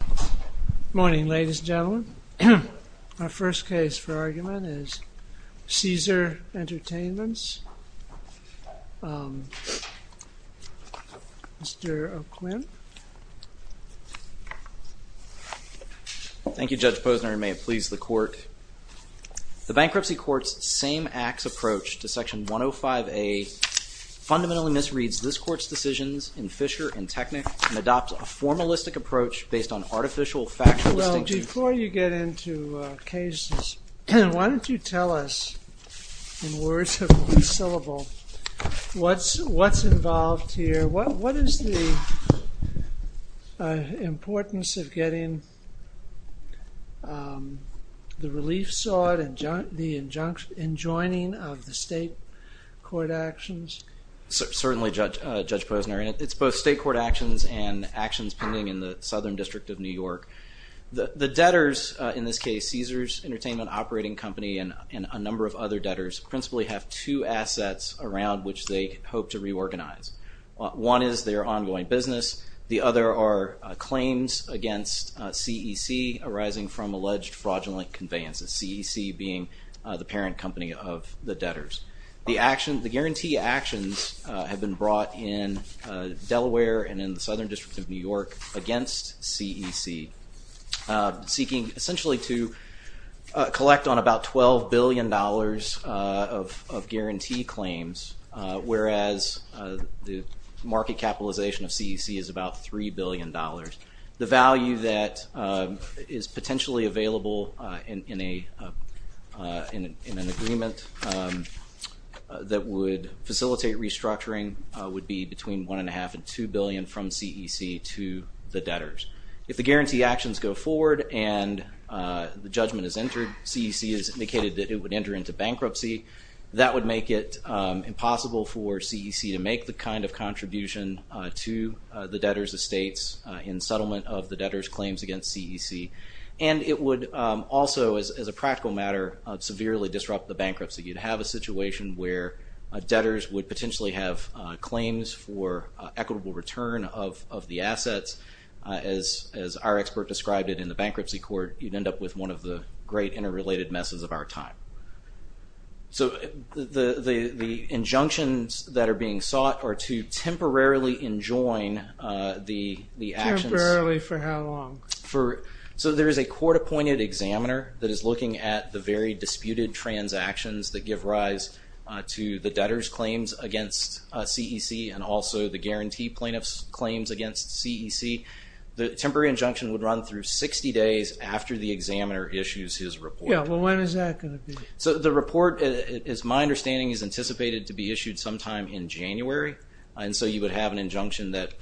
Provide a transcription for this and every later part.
Good morning, ladies and gentlemen. Our first case for argument is Caesars Entertainment's, Mr. O'Quinn. Thank you, Judge Posner. May it please the Court. The Bankruptcy Court's same-acts approach to Section 105A fundamentally misreads this formalistic approach based on artificial, factual distinction. Well, before you get into Caesars, why don't you tell us, in words of one syllable, what's involved here? What is the importance of getting the relief sought and the enjoining of the state court actions? Certainly, Judge Posner, and it's both state court actions and actions pending in the Southern District of New York. The debtors, in this case, Caesars Entertainment Operating Company and a number of other debtors, principally have two assets around which they hope to reorganize. One is their ongoing business. The other are claims against CEC arising from alleged fraudulent conveyances, CEC being the parent company of the debtors. The guarantee actions have been brought in Delaware and in the Southern District of New York against CEC, seeking essentially to collect on about $12 billion of guarantee claims, whereas the market capitalization of CEC is about $3 billion. The value that is potentially available in an agreement that would facilitate restructuring would be between $1.5 and $2 billion from CEC to the debtors. If the guarantee actions go forward and the judgment is entered, CEC has indicated that it would enter into bankruptcy, that would make it impossible for CEC to make the kind of contribution to the debtors' estates in settlement of the debtors' claims against CEC, and it would also, as a practical matter, severely disrupt the bankruptcy. You'd have a situation where debtors would potentially have claims for equitable return of the assets, as our expert described it in the bankruptcy court, you'd end up with one of the great interrelated messes of our time. So, the injunctions that are being sought are to temporarily enjoin the actions... Temporarily for how long? So there is a court-appointed examiner that is looking at the very disputed transactions that give rise to the debtors' claims against CEC and also the guarantee plaintiffs' claims against CEC. The temporary injunction would run through 60 days after the examiner issues his report. Yeah, well when is that going to be? So the report, as my understanding, is anticipated to be issued sometime in January, and so you would have an injunction that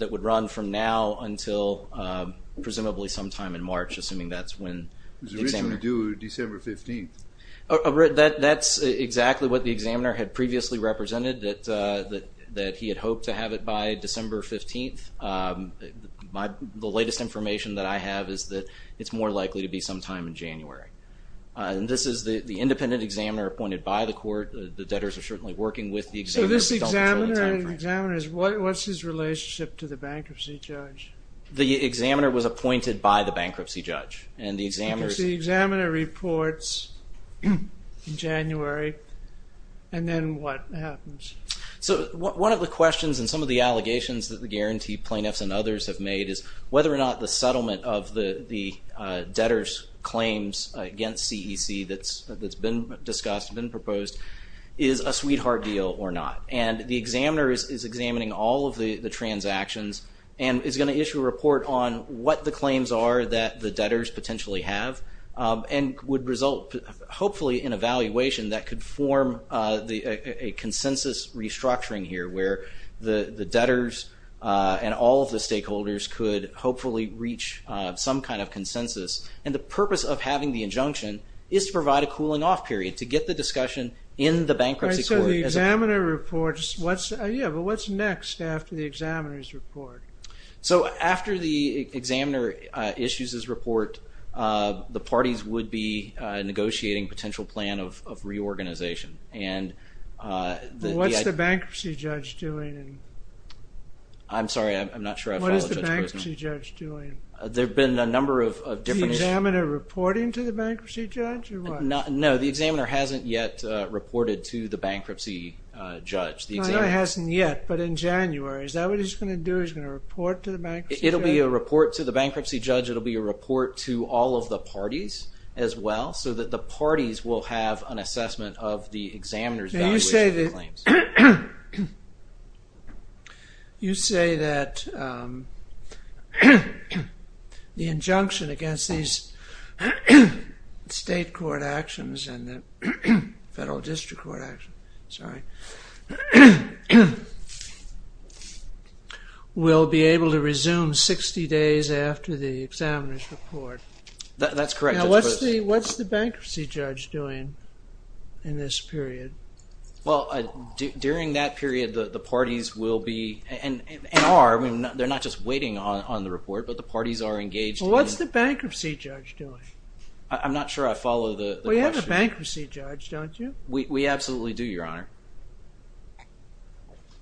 would run from now until presumably sometime in March, assuming that's when the examiner... It was originally due December 15th. That's exactly what the examiner had previously represented, that he had hoped to have it by December 15th. The latest information that I have is that it's more likely to be sometime in January. This is the independent examiner appointed by the court, the debtors are certainly working with the examiner... So this examiner and the examiners, what's his relationship to the bankruptcy judge? The examiner was appointed by the bankruptcy judge, and the examiners... Because the examiner reports in January, and then what happens? So one of the questions and some of the allegations that the guarantee plaintiffs and others have made is whether or not the settlement of the debtors' claims against CEC that's been discussed, been proposed, is a sweetheart deal or not. And the examiner is examining all of the transactions, and is going to issue a report on what the claims are that the debtors potentially have, and would result hopefully in a valuation that could form a consensus restructuring here, where the debtors and all of the stakeholders could hopefully reach some kind of consensus. And the purpose of having the injunction is to provide a cooling off period, to get the discussion in the bankruptcy court... So the examiner reports, what's next after the examiner's report? So after the examiner issues his report, the parties would be negotiating a potential plan of reorganization, and... What's the bankruptcy judge doing? I'm sorry, I'm not sure I follow Judge Poston. What is the bankruptcy judge doing? There have been a number of different... Is the examiner reporting to the bankruptcy judge, or what? No, the examiner hasn't yet reported to the bankruptcy judge. No, not hasn't yet, but in January, is that what he's going to do, he's going to report to the bankruptcy judge? It'll be a report to the bankruptcy judge, it'll be a report to all of the parties as well, so that the parties will have an assessment of the examiner's evaluation of the claims. You say that the injunction against these state court actions and the federal district court actions, sorry, will be able to resume 60 days after the examiner's report. That's correct, Judge Poston. What's the bankruptcy judge doing in this period? During that period, the parties will be, and are, they're not just waiting on the report, but the parties are engaged in... What's the bankruptcy judge doing? I'm not sure I follow the question. We have a bankruptcy judge, don't you? We absolutely do, Your Honor.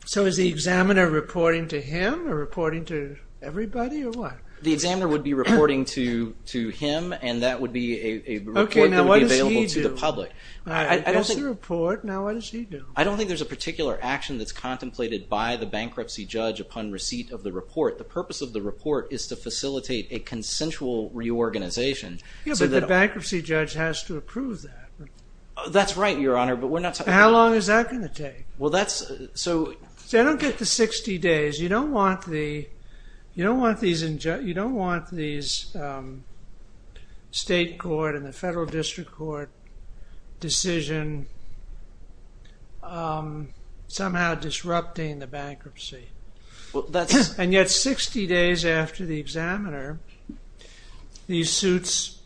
So is the examiner reporting to him, or reporting to everybody, or what? The examiner would be reporting to him, and that would be a report that would be available to the public. Okay, now what does he do? I don't think... That's the report, now what does he do? I don't think there's a particular action that's contemplated by the bankruptcy judge upon receipt of the report. The purpose of the report is to facilitate a consensual reorganization, so that... Yeah, but the bankruptcy judge has to approve that. That's right, Your Honor, but we're not talking about... How long is that going to take? Well, that's... I don't get the 60 days. You don't want these state court and the federal district court decision somehow disrupting the bankruptcy, and yet 60 days after the examiner, these suits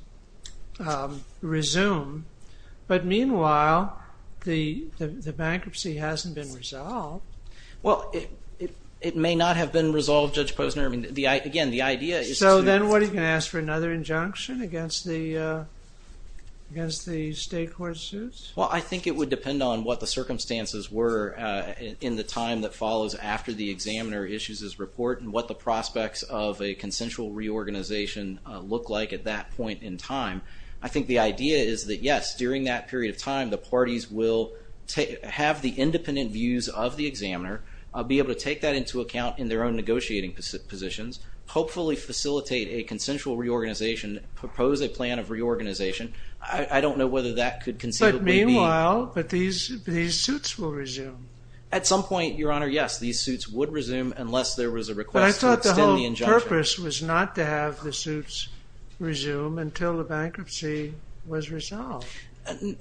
resume, but meanwhile, the bankruptcy hasn't been resolved. Well, it may not have been resolved, Judge Posner. I mean, again, the idea is to... So then what, are you going to ask for another injunction against the state court suits? Well, I think it would depend on what the circumstances were in the time that follows after the examiner issues his report, and what the prospects of a consensual reorganization look like at that point in time. I think the idea is that, yes, during that period of time, the parties will have the independent views of the examiner, be able to take that into account in their own negotiating positions, hopefully facilitate a consensual reorganization, propose a plan of reorganization. I don't know whether that could conceivably be... But meanwhile, these suits will resume. At some point, Your Honor, yes, these suits would resume unless there was a request to extend the injunction. But the purpose was not to have the suits resume until the bankruptcy was resolved.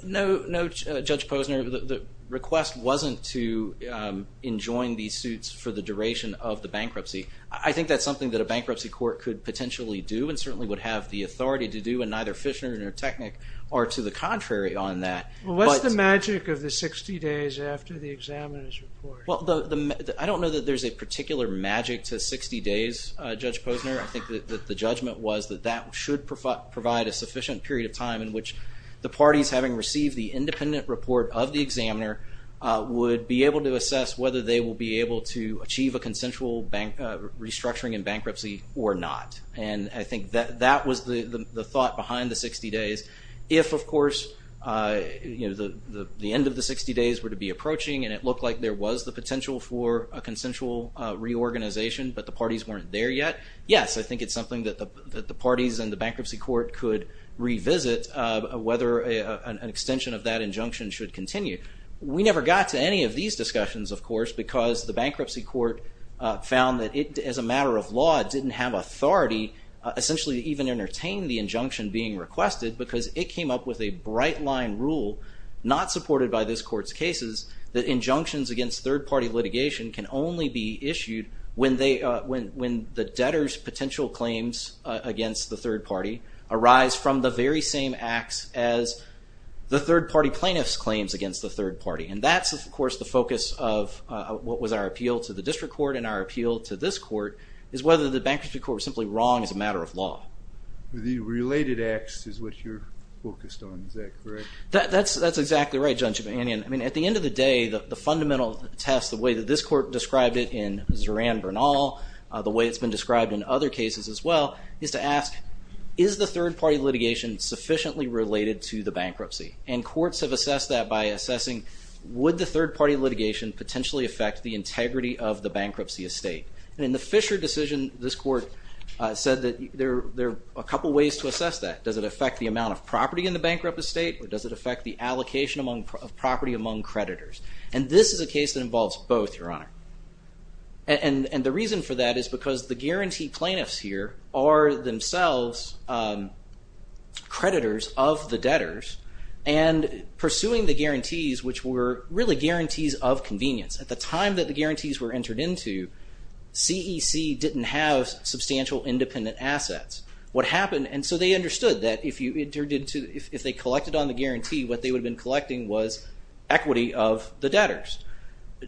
No, Judge Posner, the request wasn't to enjoin these suits for the duration of the bankruptcy. I think that's something that a bankruptcy court could potentially do, and certainly would have the authority to do, and neither Fishner nor Technik are to the contrary on that. Well, what's the magic of the 60 days after the examiner's report? Well, I don't know that there's a particular magic to 60 days, Judge Posner. I think that the judgment was that that should provide a sufficient period of time in which the parties, having received the independent report of the examiner, would be able to assess whether they will be able to achieve a consensual restructuring in bankruptcy or not. And I think that was the thought behind the 60 days. If, of course, the end of the 60 days were to be approaching, and it looked like there was the potential for a consensual reorganization, but the parties weren't there yet, yes, I think it's something that the parties and the bankruptcy court could revisit, whether an extension of that injunction should continue. We never got to any of these discussions, of course, because the bankruptcy court found that it, as a matter of law, didn't have authority, essentially, to even entertain the injunction being requested, because it came up with a bright-line rule, not supported by this court's third-party litigation, can only be issued when the debtor's potential claims against the third party arise from the very same acts as the third-party plaintiff's claims against the third party. And that's, of course, the focus of what was our appeal to the district court and our appeal to this court, is whether the bankruptcy court was simply wrong as a matter of law. The related acts is what you're focused on, is that correct? That's exactly right, Judge Mannion. I mean, at the end of the day, the fundamental test, the way that this court described it in Zoran Bernal, the way it's been described in other cases as well, is to ask, is the third-party litigation sufficiently related to the bankruptcy? And courts have assessed that by assessing, would the third-party litigation potentially affect the integrity of the bankruptcy estate? And in the Fisher decision, this court said that there are a couple ways to assess that. Does it affect the amount of property in the bankrupt estate, or does it affect the allocation of property among creditors? And this is a case that involves both, Your Honor. And the reason for that is because the guarantee plaintiffs here are themselves creditors of the debtors, and pursuing the guarantees, which were really guarantees of convenience. At the time that the guarantees were entered into, CEC didn't have substantial independent assets. What happened, and so they understood that if they collected on the guarantee, what they would have been collecting was equity of the debtors.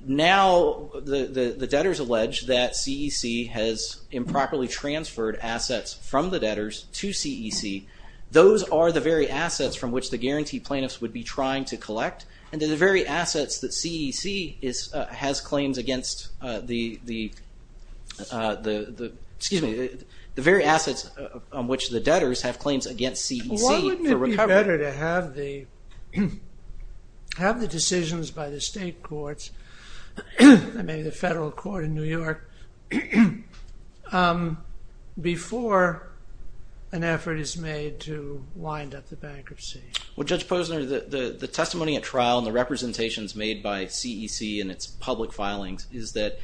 Now the debtors allege that CEC has improperly transferred assets from the debtors to CEC. Those are the very assets from which the guarantee plaintiffs would be trying to collect, and then the very assets that CEC has claims against the, excuse me, the very assets on which the debtors have claims against CEC for recovery. Is it better to have the decisions by the state courts, and maybe the federal court in New York, before an effort is made to wind up the bankruptcy? Well, Judge Posner, the testimony at trial and the representations made by CEC in its public filings is that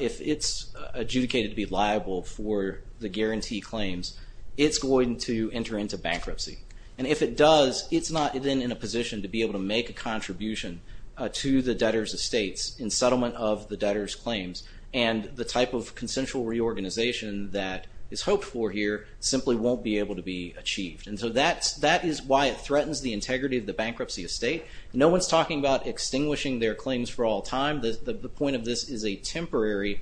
if it's adjudicated to be liable for the guarantee claims, it's going to enter into bankruptcy. And if it does, it's not then in a position to be able to make a contribution to the debtors' estates in settlement of the debtors' claims, and the type of consensual reorganization that is hoped for here simply won't be able to be achieved. And so that is why it threatens the integrity of the bankruptcy estate. No one's talking about extinguishing their claims for all time. The point of this is a temporary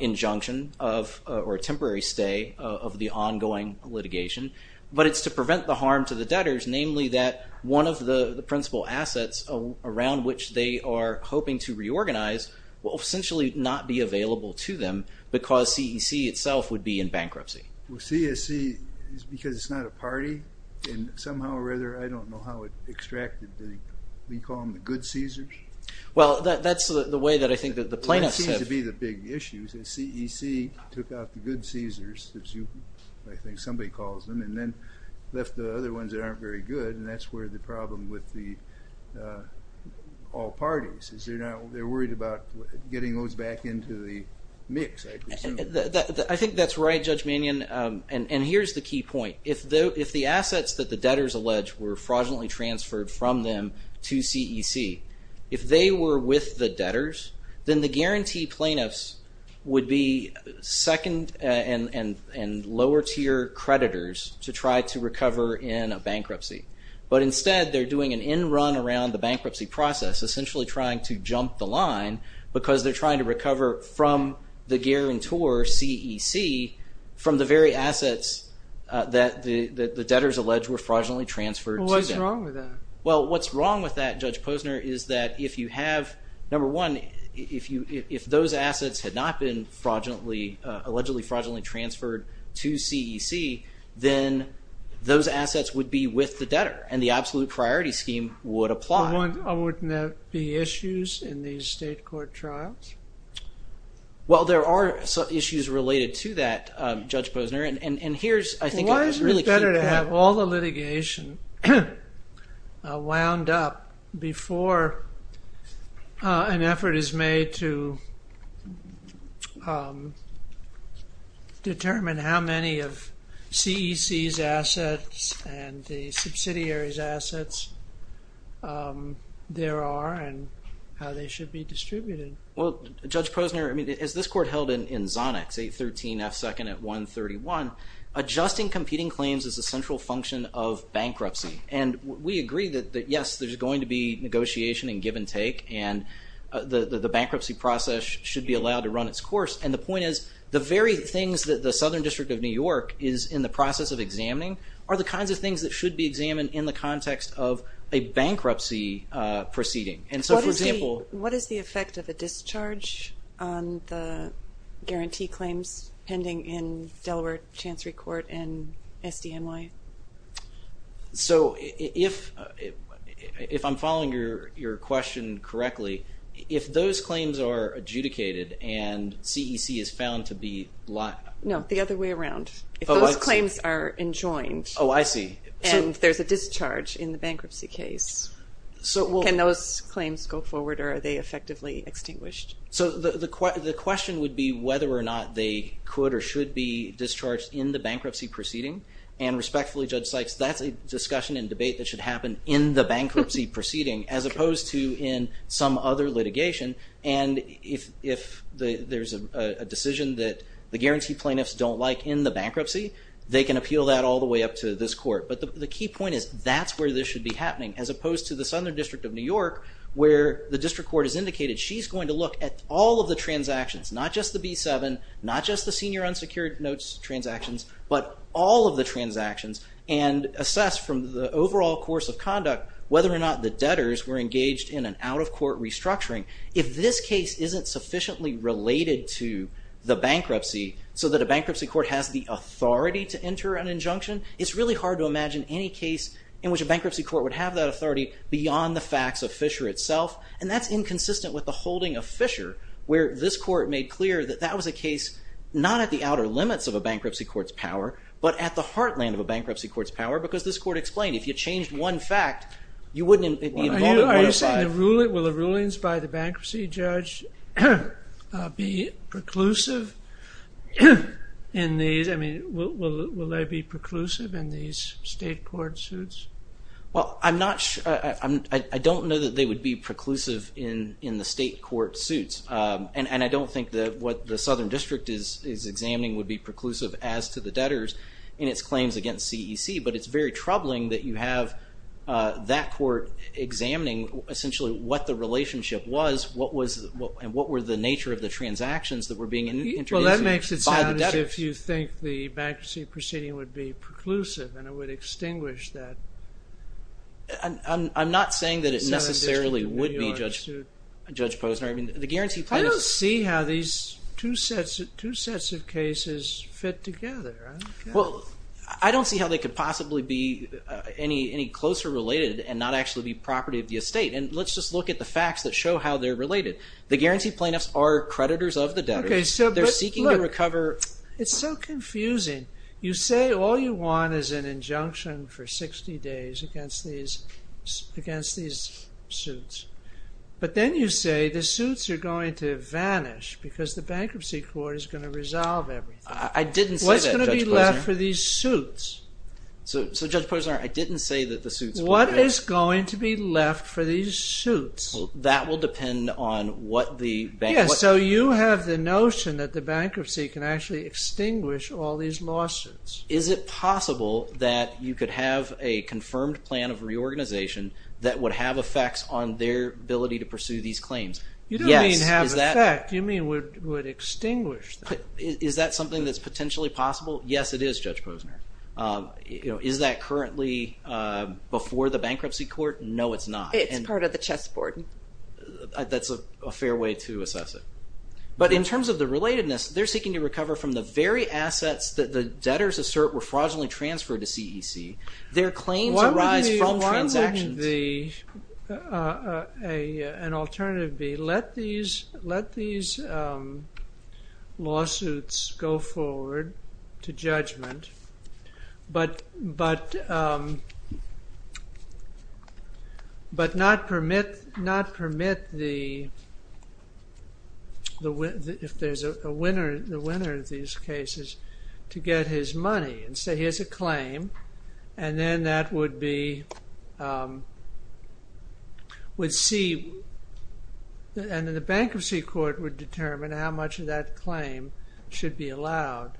injunction of, or a temporary stay of the ongoing litigation, but it's to prevent the harm to the debtors, namely that one of the principal assets around which they are hoping to reorganize will essentially not be available to them, because CEC itself would be in bankruptcy. Well, CEC, because it's not a party, and somehow or other, I don't know how it extracted the, we call them the good Caesars? Well, that's the way that I think that the plaintiffs have- That seems to be the big issue, is that CEC took out the good Caesars, which I think somebody calls them, and then left the other ones that aren't very good, and that's where the problem with the all parties, is they're worried about getting those back into the mix, I presume. I think that's right, Judge Mannion, and here's the key point. If the assets that the debtors allege were fraudulently transferred from them to CEC, if they were with the debtors, then the guarantee plaintiffs would be second and lower tier creditors to try to recover in a bankruptcy, but instead, they're doing an end run around the bankruptcy process, essentially trying to jump the line, because they're trying to recover from the guarantor, CEC, from the very assets that the debtors allege were fraudulently transferred to them. Well, what's wrong with that? What's wrong with that, Judge Posner, is that if you have, number one, if those assets had not been fraudulently, allegedly fraudulently transferred to CEC, then those assets would be with the debtor, and the absolute priority scheme would apply. Wouldn't there be issues in these state court trials? Well, there are issues related to that, Judge Posner, and here's, I think- How does the litigation wound up before an effort is made to determine how many of CEC's assets and the subsidiary's assets there are, and how they should be distributed? Well, Judge Posner, I mean, is this court held in Zonix, 813 F2nd at 131, adjusting competing claims is a central function of bankruptcy, and we agree that, yes, there's going to be negotiation and give and take, and the bankruptcy process should be allowed to run its course, and the point is, the very things that the Southern District of New York is in the process of examining are the kinds of things that should be examined in the context of a bankruptcy proceeding, and so, for example- What is the effect of a discharge on the guarantee claims pending in Delaware Chancery Court and SDNY? So if I'm following your question correctly, if those claims are adjudicated and CEC is found to be- No. The other way around. Oh, I see. If those claims are enjoined- Oh, I see. So- And there's a discharge in the bankruptcy case, can those claims go forward or are they effectively extinguished? So the question would be whether or not they could or should be discharged in the bankruptcy proceeding, and respectfully, Judge Sykes, that's a discussion and debate that should happen in the bankruptcy proceeding, as opposed to in some other litigation, and if there's a decision that the guarantee plaintiffs don't like in the bankruptcy, they can appeal that all the way up to this court, but the key point is, that's where this should be happening, as opposed to the Southern District of New York, where the district court has indicated she's going to look at all of the transactions, not just the B7, not just the senior unsecured notes transactions, but all of the transactions, and assess from the overall course of conduct whether or not the debtors were engaged in an out-of-court restructuring. If this case isn't sufficiently related to the bankruptcy, so that a bankruptcy court has the authority to enter an injunction, it's really hard to imagine any case in which a bankruptcy court would have that authority beyond the facts of Fisher itself, and that's inconsistent with the holding of Fisher, where this court made clear that that was a case, not at the outer limits of a bankruptcy court's power, but at the heartland of a bankruptcy court's power, because this court explained, if you changed one fact, you wouldn't be involved in 105. Are you saying, will the rulings by the bankruptcy judge be preclusive in these, I mean, will they be preclusive in these state court suits? Well, I'm not sure, I don't know that they would be preclusive in the state court suits, and I don't think that what the Southern District is examining would be preclusive as to the debtors in its claims against CEC, but it's very troubling that you have that court examining essentially what the relationship was, and what were the nature of the transactions that were being introduced by the debtors. Well, that makes it sound as if you think the bankruptcy proceeding would be preclusive, and it would extinguish that. I'm not saying that it necessarily would be, Judge Posner, I mean, the guarantee plaintiffs... I don't see how these two sets of cases fit together. Well, I don't see how they could possibly be any closer related, and not actually be property of the estate, and let's just look at the facts that show how they're related. The guarantee plaintiffs are creditors of the debtors. They're seeking to recover... It's so confusing. You say all you want is an injunction for 60 days against these suits, but then you say the suits are going to vanish, because the bankruptcy court is going to resolve everything. I didn't say that, Judge Posner. What's going to be left for these suits? So, Judge Posner, I didn't say that the suits were going to... What is going to be left for these suits? Well, that will depend on what the bank... Yeah, so you have the notion that the bankruptcy can actually extinguish all these lawsuits. Is it possible that you could have a confirmed plan of reorganization that would have effects on their ability to pursue these claims? You don't mean have effect, you mean would extinguish them. Is that something that's potentially possible? Yes, it is, Judge Posner. Is that currently before the bankruptcy court? No, it's not. It's part of the chess board. That's a fair way to assess it. But in terms of the relatedness, they're seeking to recover from the very assets that the debtors assert were fraudulently transferred to CEC. Their claims arise from transactions. And an alternative would be, let these lawsuits go forward to judgment, but not permit the winner of these cases to get his money and say, here's a claim. And then that would be, would see, and then the bankruptcy court would determine how much of that claim should be allowed.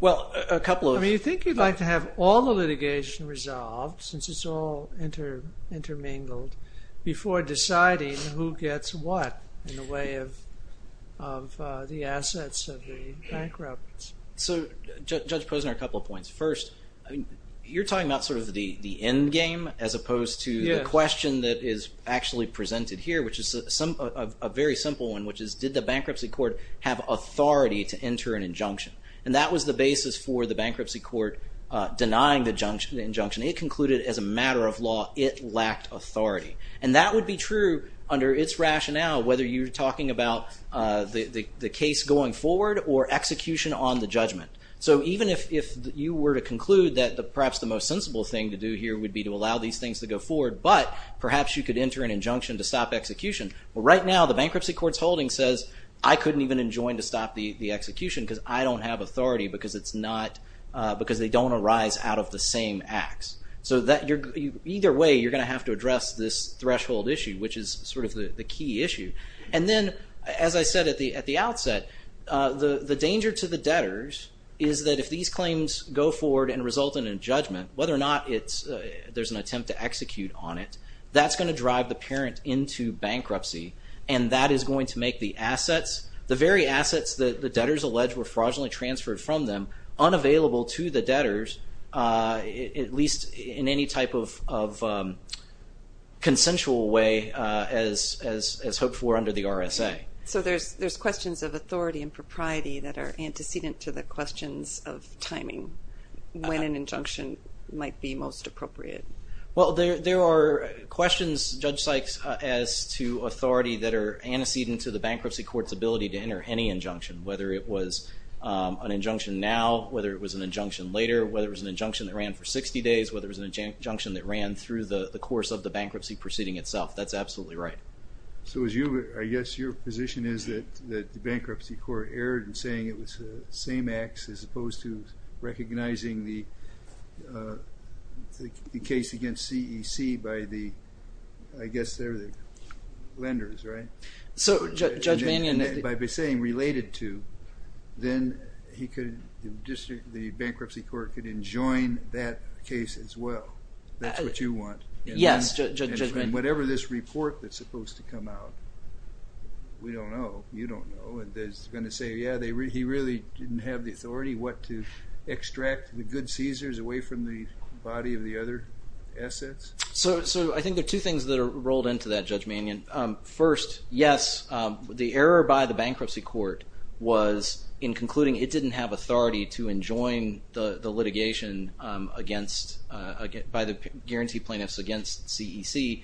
Well, a couple of... I mean, you think you'd like to have all the litigation resolved, since it's all intermingled, before deciding who gets what in the way of the assets of the bankrupts. So Judge Posner, a couple of points. First, you're talking about sort of the end game, as opposed to the question that is actually presented here, which is a very simple one, which is, did the bankruptcy court have authority to enter an injunction? And that was the basis for the bankruptcy court denying the injunction. It concluded as a matter of law, it lacked authority. And that would be true under its rationale, whether you're talking about the case going forward, or execution on the judgment. So even if you were to conclude that perhaps the most sensible thing to do here would be to allow these things to go forward, but perhaps you could enter an injunction to stop execution. Right now, the bankruptcy court's holding says, I couldn't even enjoin to stop the execution because I don't have authority, because they don't arise out of the same acts. So either way, you're going to have to address this threshold issue, which is sort of the key issue. And then, as I said at the outset, the danger to the debtors is that if these claims go forward and result in a judgment, whether or not there's an attempt to execute on it, that's going to drive the parent into bankruptcy. And that is going to make the assets, the very assets that the debtors allege were fraudulently transferred from them, unavailable to the debtors, at least in any type of consensual way as hoped for under the RSA. So there's questions of authority and propriety that are antecedent to the questions of timing, when an injunction might be most appropriate. Well, there are questions, Judge Sykes, as to authority that are antecedent to the bankruptcy court's ability to enter any injunction, whether it was an injunction now, whether it was an injunction later, whether it was an injunction that ran for 60 days, whether it was an injunction that ran through the course of the bankruptcy proceeding itself. That's absolutely right. So as you, I guess your position is that the bankruptcy court erred in saying it was the same acts as opposed to recognizing the case against CEC by the, I guess they're the lenders, right? So, Judge Mannion... And by saying related to, then he could, the bankruptcy court could enjoin that case as well. That's what you want. Yes, Judge Mannion. And whatever this report that's supposed to come out, we don't know, you don't know, and it's going to say, yeah, he really didn't have the authority what to extract the good seizures away from the body of the other assets? So I think there are two things that are rolled into that, Judge Mannion. First, yes, the error by the bankruptcy court was in concluding it didn't have authority to enjoin the litigation against, by the guarantee plaintiffs against CEC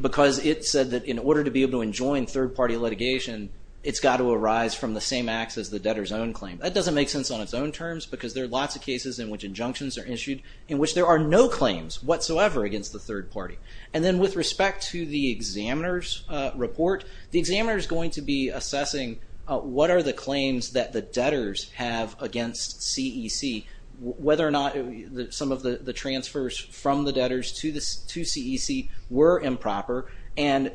because it said that in order to be able to enjoin third party litigation, it's got to arise from the same acts as the debtor's own claim. That doesn't make sense on its own terms because there are lots of cases in which injunctions are issued in which there are no claims whatsoever against the third party. And then with respect to the examiner's report, the examiner is going to be assessing what are the claims that the debtors have against CEC, whether or not some of the transfers from the debtors to CEC were improper. And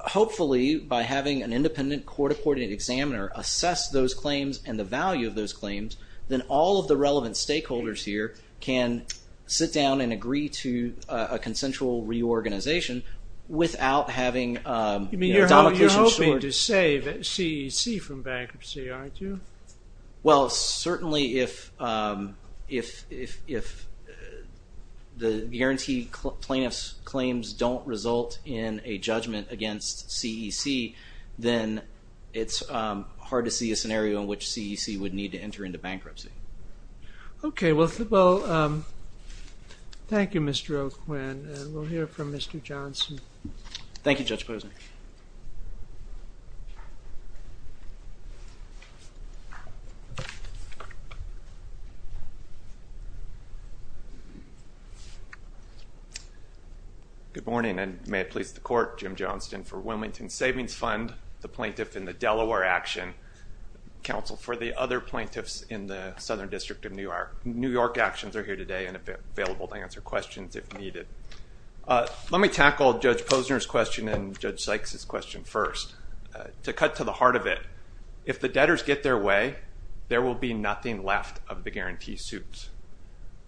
hopefully by having an independent court-accorded examiner assess those claims and the value of those claims, then all of the relevant stakeholders here can sit down and agree to a consensual reorganization without having a domicilious sort of- Well, certainly if the guarantee plaintiffs' claims don't result in a judgment against CEC, then it's hard to see a scenario in which CEC would need to enter into bankruptcy. Okay, well, thank you, Mr. O'Quinn, and we'll hear from Mr. Johnson. Thank you, Judge Posner. Good morning, and may it please the Court, Jim Johnston for Wilmington Savings Fund, the plaintiff in the Delaware action, counsel for the other plaintiffs in the Southern District of New York. New York actions are here today and available to answer questions if needed. Let me tackle Judge Posner's question and Judge Sykes' question first. To cut to the heart of it, if the debtors get their way, there will be nothing left of the guarantee suit.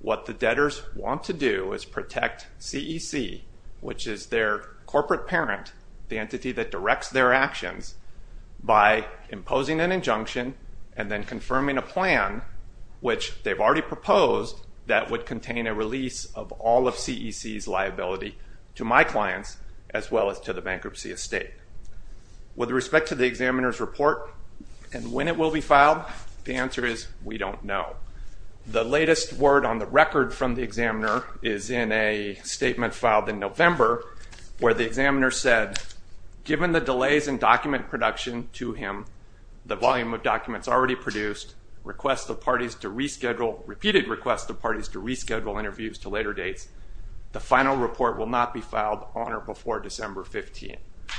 What the debtors want to do is protect CEC, which is their corporate parent, the entity that directs their actions, by imposing an injunction and then confirming a plan, which they've already proposed, that would contain a release of all of CEC's liability to my clients as well as to the bankruptcy estate. With respect to the examiner's report and when it will be filed, the answer is we don't know. The latest word on the record from the examiner is in a statement filed in November where the examiner said, given the delays in document production to him, the volume of documents already produced, repeated requests of parties to reschedule interviews to later dates, the final report will not be filed on or before December 15th.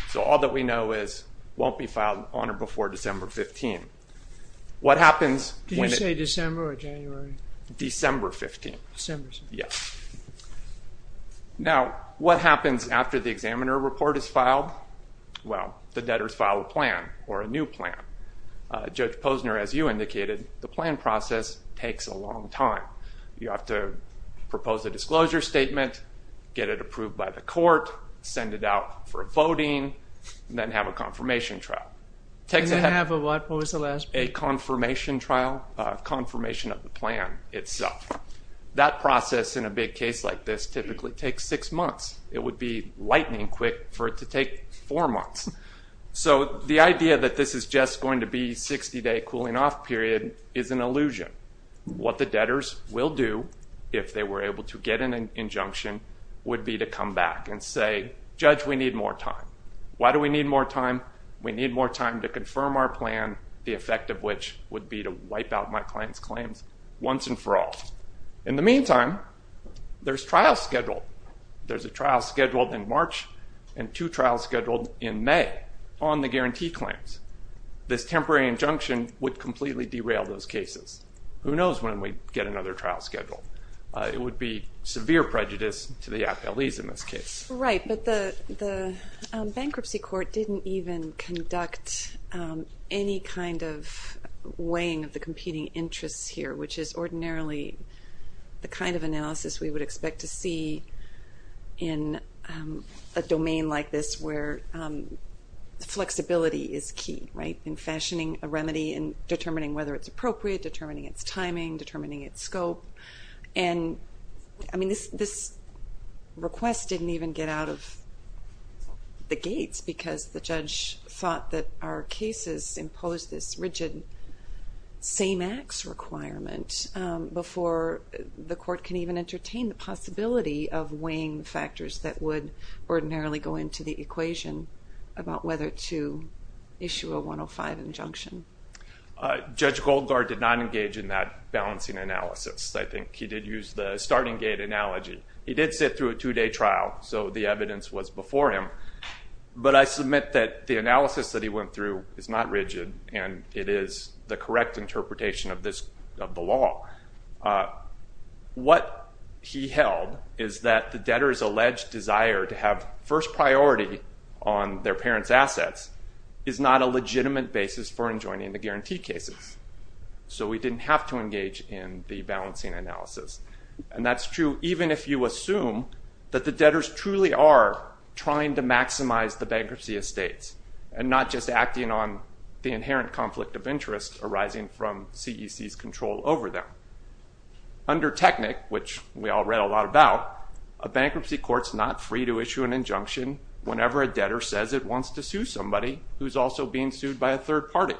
So all that we know is it won't be filed on or before December 15th. What happens- Did you say December or January? December 15th. December. Yes. Now, what happens after the examiner report is filed? Well, the debtors file a plan or a new plan. Judge Posner, as you indicated, the plan process takes a long time. You have to propose a disclosure statement, get it approved by the court, send it out for voting, and then have a confirmation trial. And then have a what? What was the last part? A confirmation trial, a confirmation of the plan itself. That process in a big case like this typically takes six months. It would be lightning quick for it to take four months. So the idea that this is just going to be a 60-day cooling off period is an illusion. What the debtors will do if they were able to get an injunction would be to come back and say, Judge, we need more time. Why do we need more time? We need more time to confirm our plan, the effect of which would be to wipe out my client's claims once and for all. In the meantime, there's trial schedule. There's a trial schedule in March and two trials scheduled in May on the guarantee claims. This temporary injunction would completely derail those cases. Who knows when we'd get another trial schedule? It would be severe prejudice to the Appellees in this case. Right, but the bankruptcy court didn't even conduct any kind of weighing of the competing interests here, which is ordinarily the kind of analysis we would expect to see in a domain like this where flexibility is key, right, in fashioning a remedy and determining whether it's appropriate, determining its timing, determining its scope. And I mean, this request didn't even get out of the gates because the judge thought that our cases imposed this rigid same-acts requirement before the court can even entertain the possibility of weighing factors that would ordinarily go into the equation about whether to issue a 105 injunction. Judge Goldgaard did not engage in that balancing analysis. I think he did use the starting gate analogy. He did sit through a two-day trial, so the evidence was before him. But I submit that the analysis that he went through is not rigid, and it is the correct interpretation of the law. What he held is that the debtor's alleged desire to have first priority on their parents' assets is not a legitimate basis for enjoining the guarantee cases. So he didn't have to engage in the balancing analysis. And that's true even if you assume that the debtors truly are trying to maximize the bankruptcy estates and not just acting on the inherent conflict of interest arising from CEC's control over them. Under technic, which we all read a lot about, a bankruptcy court's not free to issue an injunction whenever a debtor says it wants to sue somebody who's also being sued by a third party's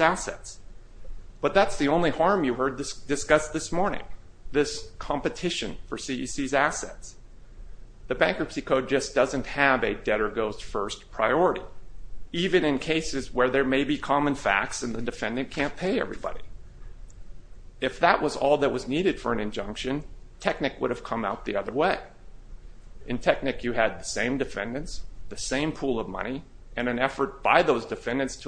assets. But that's the only harm you heard discussed this morning, this competition for CEC's assets. The bankruptcy code just doesn't have a debtor-goes-first priority, even in cases where there may be common facts and the defendant can't pay everybody. If that was all that was needed for an injunction, technic would have come out the other way. In technic, you had the same defendants, the same pool of money, and an effort by those assets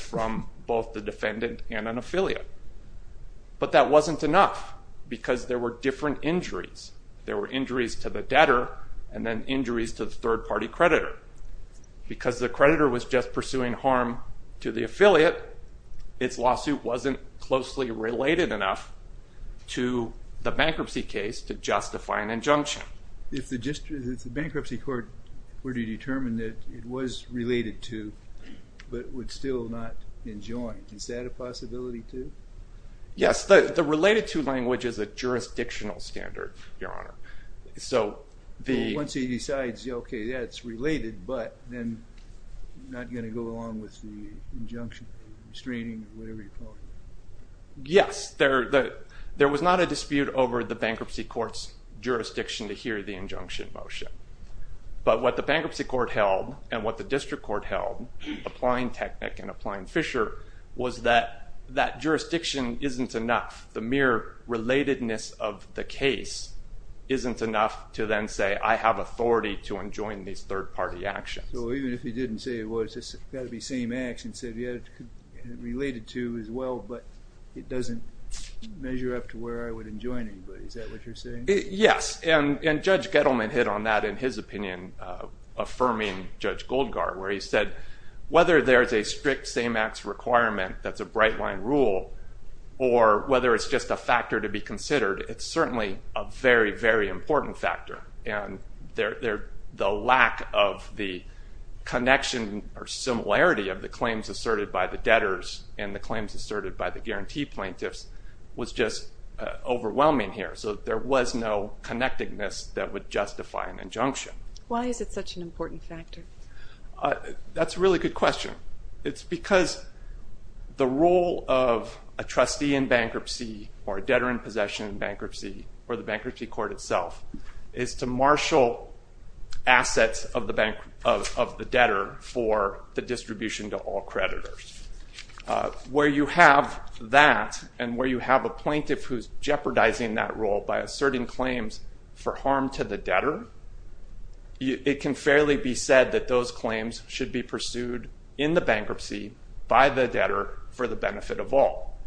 from both the defendant and an affiliate. But that wasn't enough because there were different injuries. There were injuries to the debtor and then injuries to the third party creditor. Because the creditor was just pursuing harm to the affiliate, its lawsuit wasn't closely related enough to the bankruptcy case to justify an injunction. If the bankruptcy court were to determine that it was related to, but would still not enjoin, is that a possibility too? Yes, the related to language is a jurisdictional standard, your honor. So once he decides, okay, yeah, it's related, but then not going to go along with the injunction, restraining, whatever you call it. Yes, there was not a dispute over the bankruptcy court's jurisdiction to hear the injunction motion. But what the bankruptcy court held and what the district court held, applying technic and applying Fisher, was that that jurisdiction isn't enough. The mere relatedness of the case isn't enough to then say, I have authority to enjoin these third party actions. So even if he didn't say, well, it's got to be same acts, and said, yeah, it's related to as well, but it doesn't measure up to where I would enjoin anybody, is that what you're saying? Yes. And Judge Gettleman hit on that in his opinion, affirming Judge Goldgaard, where he said, whether there's a strict same acts requirement that's a bright line rule, or whether it's just a factor to be considered, it's certainly a very, very important factor. And the lack of the connection or similarity of the claims asserted by the debtors and the claims asserted by the guarantee plaintiffs was just overwhelming here. So there was no connectedness that would justify an injunction. Why is it such an important factor? That's a really good question. It's because the role of a trustee in bankruptcy, or a debtor in possession in bankruptcy, or is to marshal assets of the debtor for the distribution to all creditors. Where you have that, and where you have a plaintiff who's jeopardizing that role by asserting claims for harm to the debtor, it can fairly be said that those claims should be pursued in the bankruptcy by the debtor for the benefit of all.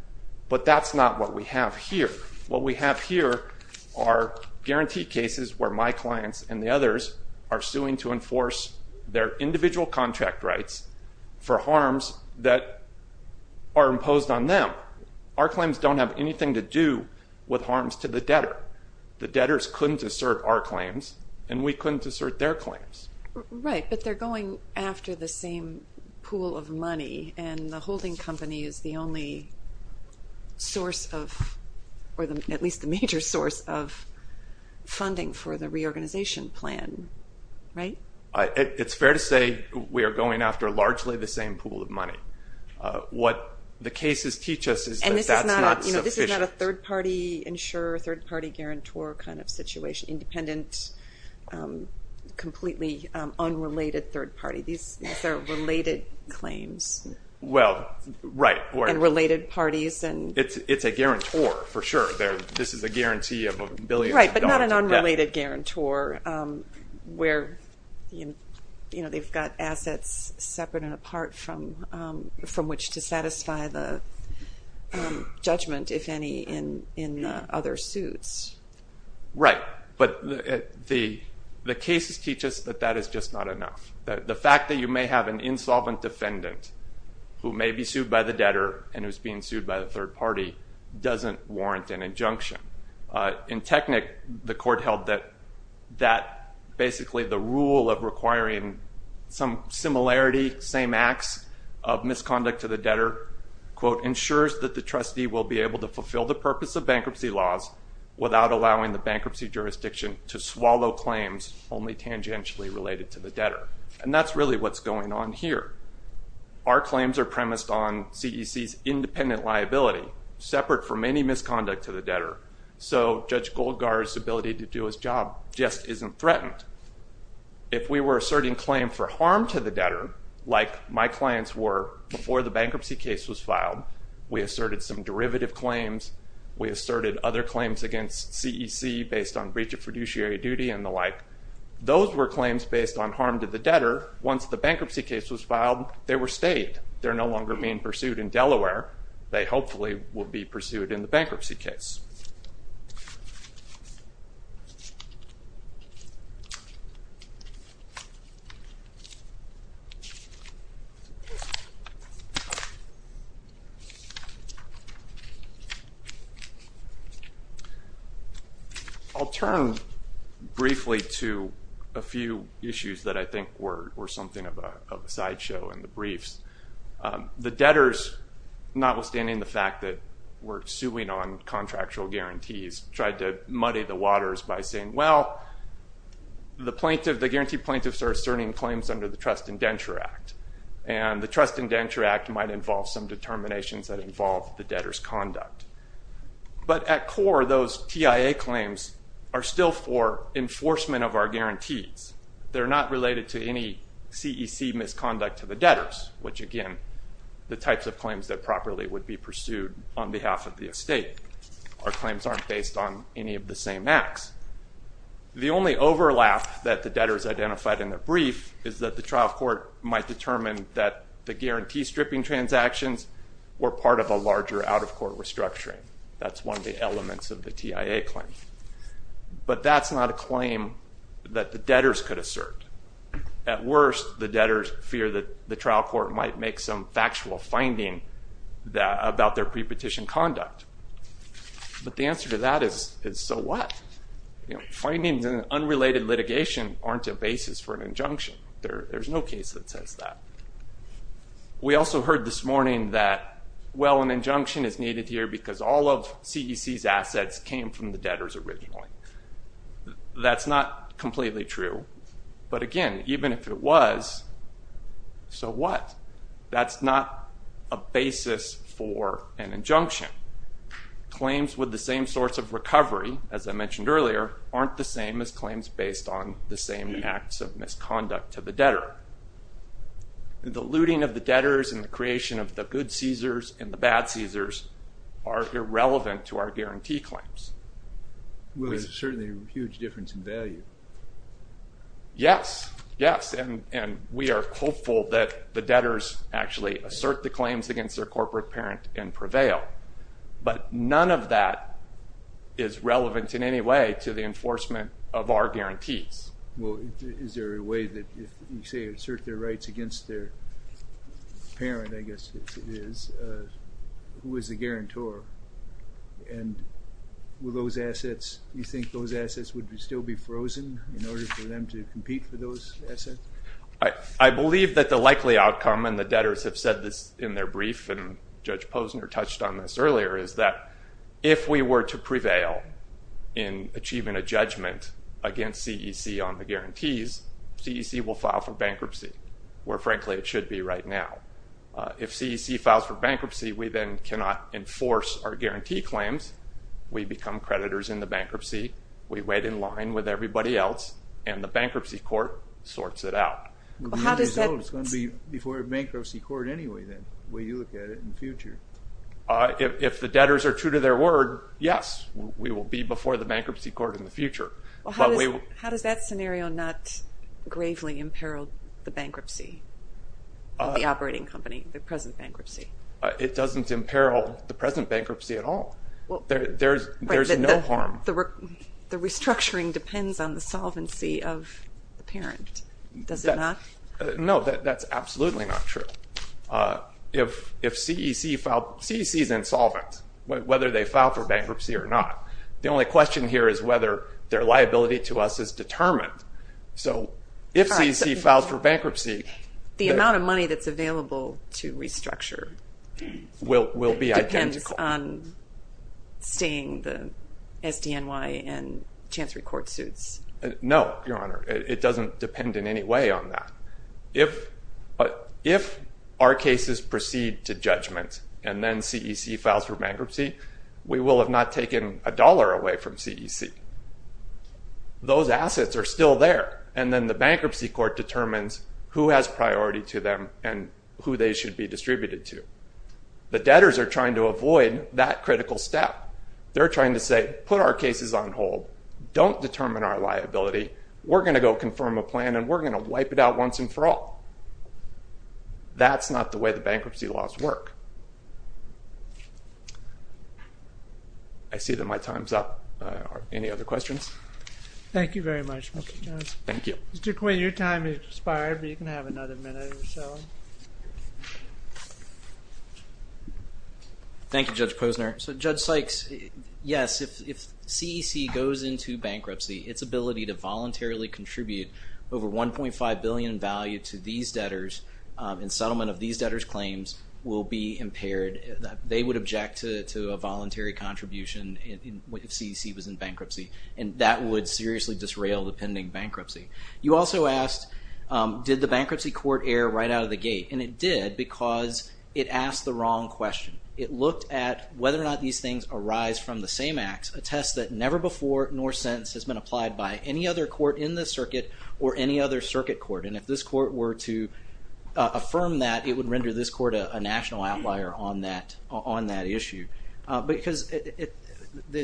But that's not what we have here. What we have here are guarantee cases where my clients and the others are suing to enforce their individual contract rights for harms that are imposed on them. Our claims don't have anything to do with harms to the debtor. The debtors couldn't assert our claims, and we couldn't assert their claims. Right, but they're going after the same pool of money, and the holding company is the only source of, or at least the major source of funding for the reorganization plan, right? It's fair to say we are going after largely the same pool of money. What the cases teach us is that that's not sufficient. And this is not a third-party insurer, third-party guarantor kind of situation, independent, completely unrelated third-party. These are related claims. Well, right. And related parties. It's a guarantor, for sure. This is a guarantee of billions of dollars in debt. Right, but not an unrelated guarantor where they've got assets separate and apart from which to satisfy the judgment, if any, in other suits. Right, but the cases teach us that that is just not enough. The fact that you may have an insolvent defendant who may be sued by the debtor and who's being sued by the third party doesn't warrant an injunction. In Technic, the court held that basically the rule of requiring some similarity, same acts of misconduct to the debtor, quote, ensures that the trustee will be able to fulfill the purpose of bankruptcy laws without allowing the bankruptcy jurisdiction to swallow claims only tangentially related to the debtor. And that's really what's going on here. Our claims are premised on CEC's independent liability, separate from any misconduct to the debtor. So, Judge Goldgar's ability to do his job just isn't threatened. If we were asserting claim for harm to the debtor, like my clients were before the bankruptcy case was filed, we asserted some derivative claims, we asserted other claims against CEC based on breach of fiduciary duty and the like. Those were claims based on harm to the debtor. Once the bankruptcy case was filed, they were stayed. They're no longer being pursued in Delaware. They hopefully will be pursued in the bankruptcy case. I'll turn briefly to a few issues that I think were something of a sideshow in the briefs. The debtors, notwithstanding the fact that we're suing on contractual guarantees, tried to muddy the waters by saying, well, the guaranteed plaintiffs are asserting claims under the Trust Indenture Act. And the Trust Indenture Act might involve some determinations that involve the debtor's conduct. But at core, those TIA claims are still for enforcement of our guarantees. They're not related to any CEC misconduct to the debtors, which again, the types of claims that properly would be pursued on behalf of the estate. Our claims aren't based on any of the same acts. The only overlap that the debtors identified in the brief is that the trial court might determine that the guarantee stripping transactions were part of a larger out-of-court restructuring. That's one of the elements of the TIA claim. But that's not a claim that the debtors could assert. At worst, the debtors fear that the trial court might make some factual finding about their pre-petition conduct. But the answer to that is, so what? Findings in unrelated litigation aren't a basis for an injunction. There's no case that says that. We also heard this morning that, well, an injunction is needed here because all of CEC's assets came from the debtors originally. That's not completely true. But again, even if it was, so what? That's not a basis for an injunction. Claims with the same source of recovery, as I mentioned earlier, aren't the same as claims based on the same acts of misconduct to the debtor. The looting of the debtors and the creation of the good CECs and the bad CECs are irrelevant to our guarantee claims. Well, there's certainly a huge difference in value. Yes, yes. And we are hopeful that the debtors actually assert the claims against their corporate parent and prevail. But none of that is relevant in any way to the enforcement of our guarantees. Well, is there a way that if you say, assert their rights against their parent, I guess it is, who is the guarantor? And will those assets, you think those assets would still be frozen in order for them to compete for those assets? I believe that the likely outcome, and the debtors have said this in their brief, and they mentioned this earlier, is that if we were to prevail in achieving a judgment against CEC on the guarantees, CEC will file for bankruptcy, where frankly it should be right now. If CEC files for bankruptcy, we then cannot enforce our guarantee claims. We become creditors in the bankruptcy. We wait in line with everybody else, and the bankruptcy court sorts it out. Well, how does that... We will be before a bankruptcy court anyway then, the way you look at it in the future. If the debtors are true to their word, yes, we will be before the bankruptcy court in the future. Well, how does that scenario not gravely imperil the bankruptcy of the operating company, the present bankruptcy? It doesn't imperil the present bankruptcy at all. There's no harm. The restructuring depends on the solvency of the parent, does it not? No, that's absolutely not true. If CEC filed... CEC is insolvent, whether they file for bankruptcy or not. The only question here is whether their liability to us is determined. So if CEC files for bankruptcy... The amount of money that's available to restructure... Will be identical. Depends on staying the SDNY and Chancery court suits. No, Your Honor. It doesn't depend in any way on that. If our cases proceed to judgment and then CEC files for bankruptcy, we will have not taken a dollar away from CEC. Those assets are still there, and then the bankruptcy court determines who has priority to them and who they should be distributed to. The debtors are trying to avoid that critical step. They're trying to say, put our cases on hold. Don't determine our liability. We're going to go confirm a plan and we're going to wipe it out once and for all. That's not the way the bankruptcy laws work. I see that my time's up. Any other questions? Thank you very much, Mr. Jones. Thank you. Mr. Quinn, your time has expired, but you can have another minute or so. Thank you, Judge Posner. Judge Sykes, yes, if CEC goes into bankruptcy, its ability to voluntarily contribute over 1.5 billion in value to these debtors in settlement of these debtors' claims will be impaired. They would object to a voluntary contribution if CEC was in bankruptcy, and that would seriously disrail the pending bankruptcy. You also asked, did the bankruptcy court err right out of the gate? It did because it asked the wrong question. It looked at whether or not these things arise from the same acts, a test that never before nor since has been applied by any other court in this circuit or any other circuit court. If this court were to affirm that, it would render this court a national outlier on that issue. The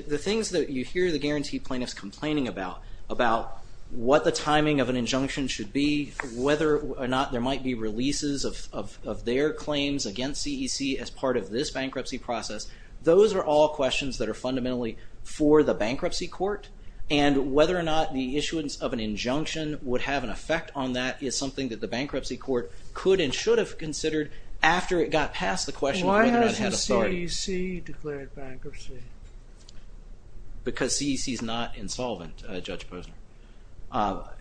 things that you hear the guaranteed plaintiffs complaining about, about what the timing of an injunction should be, whether or not there might be releases of their claims against this bankruptcy process, those are all questions that are fundamentally for the bankruptcy court, and whether or not the issuance of an injunction would have an effect on that is something that the bankruptcy court could and should have considered after it got past the question of whether or not it had authority. Why hasn't CEC declared bankruptcy? Because CEC is not insolvent, Judge Posner. Well,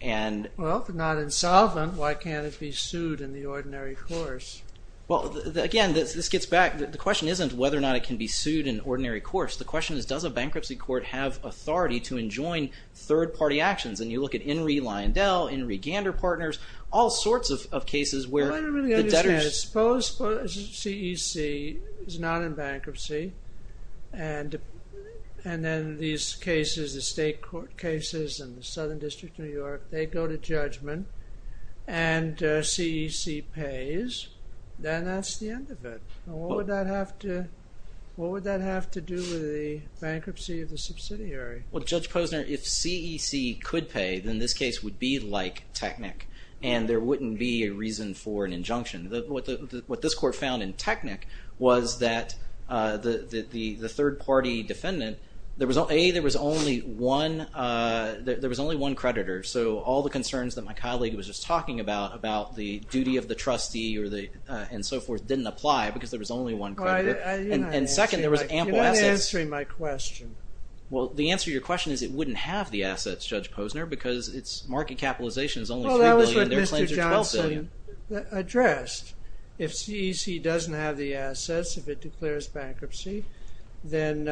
if it's not insolvent, why can't it be sued in the ordinary course? Well, again, this gets back, the question isn't whether or not it can be sued in ordinary course. The question is, does a bankruptcy court have authority to enjoin third party actions? And you look at Enri Lyondell, Enri Gander Partners, all sorts of cases where I don't really understand it. Suppose CEC is not in bankruptcy and and then these cases, the state court cases in the Then that's the end of it. What would that have to do with the bankruptcy of the subsidiary? Well, Judge Posner, if CEC could pay, then this case would be like Technic and there wouldn't be a reason for an injunction. What this court found in Technic was that the third party defendant, there was only one creditor. So all the concerns that my colleague was just talking about, about the duty of the and so forth, didn't apply because there was only one creditor. And second, there was ample assets. You're not answering my question. Well, the answer to your question is it wouldn't have the assets, Judge Posner, because its market capitalization is only $3 billion and their claims are $12 billion. Well, that was what Mr. Johnson addressed. If CEC doesn't have the assets, if it declares bankruptcy, then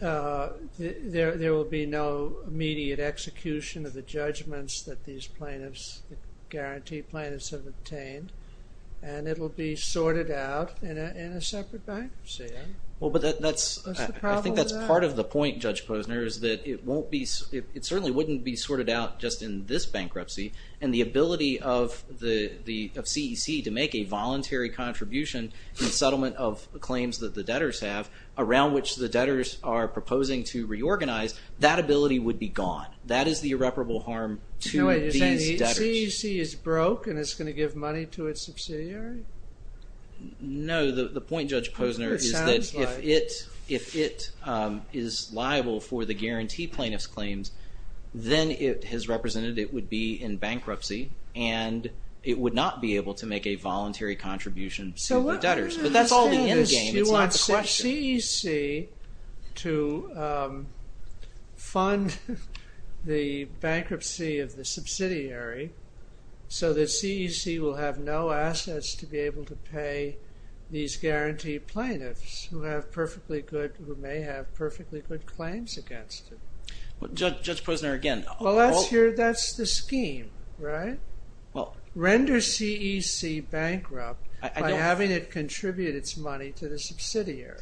there will be no immediate execution of the judgments that these plaintiffs, the guaranteed plaintiffs have obtained and it will be sorted out in a separate bankruptcy. Well, but that's, I think that's part of the point, Judge Posner, is that it certainly wouldn't be sorted out just in this bankruptcy and the ability of CEC to make a voluntary contribution in settlement of claims that the debtors have around which the debtors are proposing to reorganize, that ability would be gone. That is the irreparable harm to these debtors. So CEC is broke and it's going to give money to its subsidiary? No, the point, Judge Posner, is that if it is liable for the guarantee plaintiff's claims, then it has represented it would be in bankruptcy and it would not be able to make a voluntary contribution to the debtors. But that's all the end game. She wants CEC to fund the bankruptcy of the subsidiary so that CEC will have no assets to be able to pay these guaranteed plaintiffs who have perfectly good, who may have perfectly good claims against it. Judge Posner, again. Well, that's your, that's the scheme, right? Well, render CEC bankrupt by having it contribute its money to the subsidiary.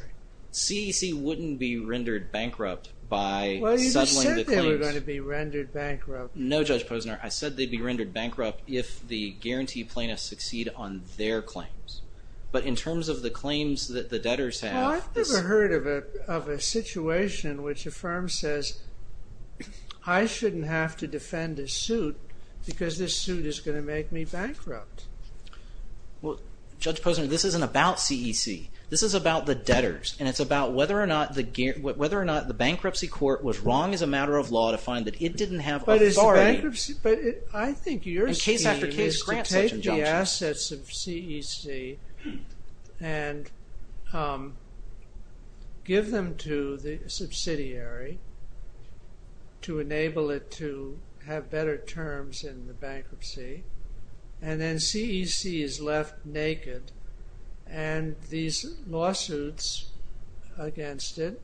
CEC wouldn't be rendered bankrupt by settling the claims. Well, you just said they were going to be rendered bankrupt. No, Judge Posner. I said they'd be rendered bankrupt if the guaranteed plaintiffs succeed on their claims. But in terms of the claims that the debtors have. I've never heard of a situation in which a firm says, I shouldn't have to defend a suit, it's going to make me bankrupt. Well, Judge Posner, this isn't about CEC. This is about the debtors. And it's about whether or not the bankruptcy court was wrong as a matter of law to find that it didn't have authority. But I think your scheme is to take the assets of CEC and give them to the subsidiary to enable it to have better terms in the bankruptcy. And then CEC is left naked and these lawsuits against it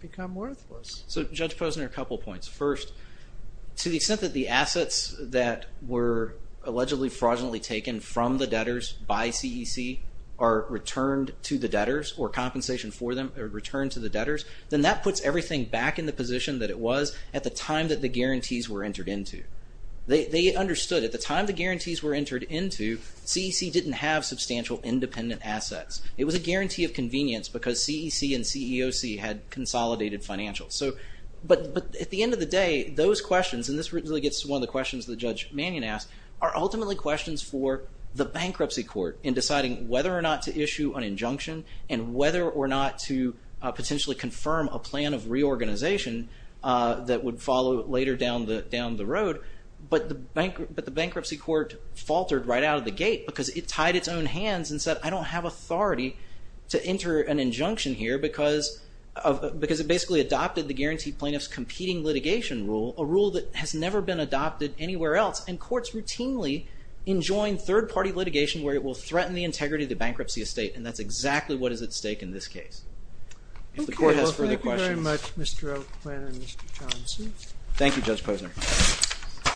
become worthless. So, Judge Posner, a couple of points. First, to the extent that the assets that were allegedly fraudulently taken from the debtors by CEC are returned to the debtors or compensation for them are returned to the debtors, then that puts everything back in the position that it was at the time that the guarantees were entered into. They understood at the time the guarantees were entered into, CEC didn't have substantial independent assets. It was a guarantee of convenience because CEC and CEOC had consolidated financials. So, but at the end of the day, those questions, and this really gets one of the questions that Judge Mannion asked, are ultimately questions for the bankruptcy court in deciding whether or not to issue an injunction and whether or not to potentially confirm a plan of reorganization that would follow later down the road. But the bankruptcy court faltered right out of the gate because it tied its own hands and said, I don't have authority to enter an injunction here because it basically adopted the guaranteed plaintiff's competing litigation rule, a rule that has never been adopted anywhere else. And courts routinely enjoin third party litigation where it will threaten the integrity of the bankruptcy estate. And that's exactly what is at stake in this case. If the court has further questions. Thank you very much, Mr. O'Quinn and Mr. Johnson. Thank you, Judge Posner.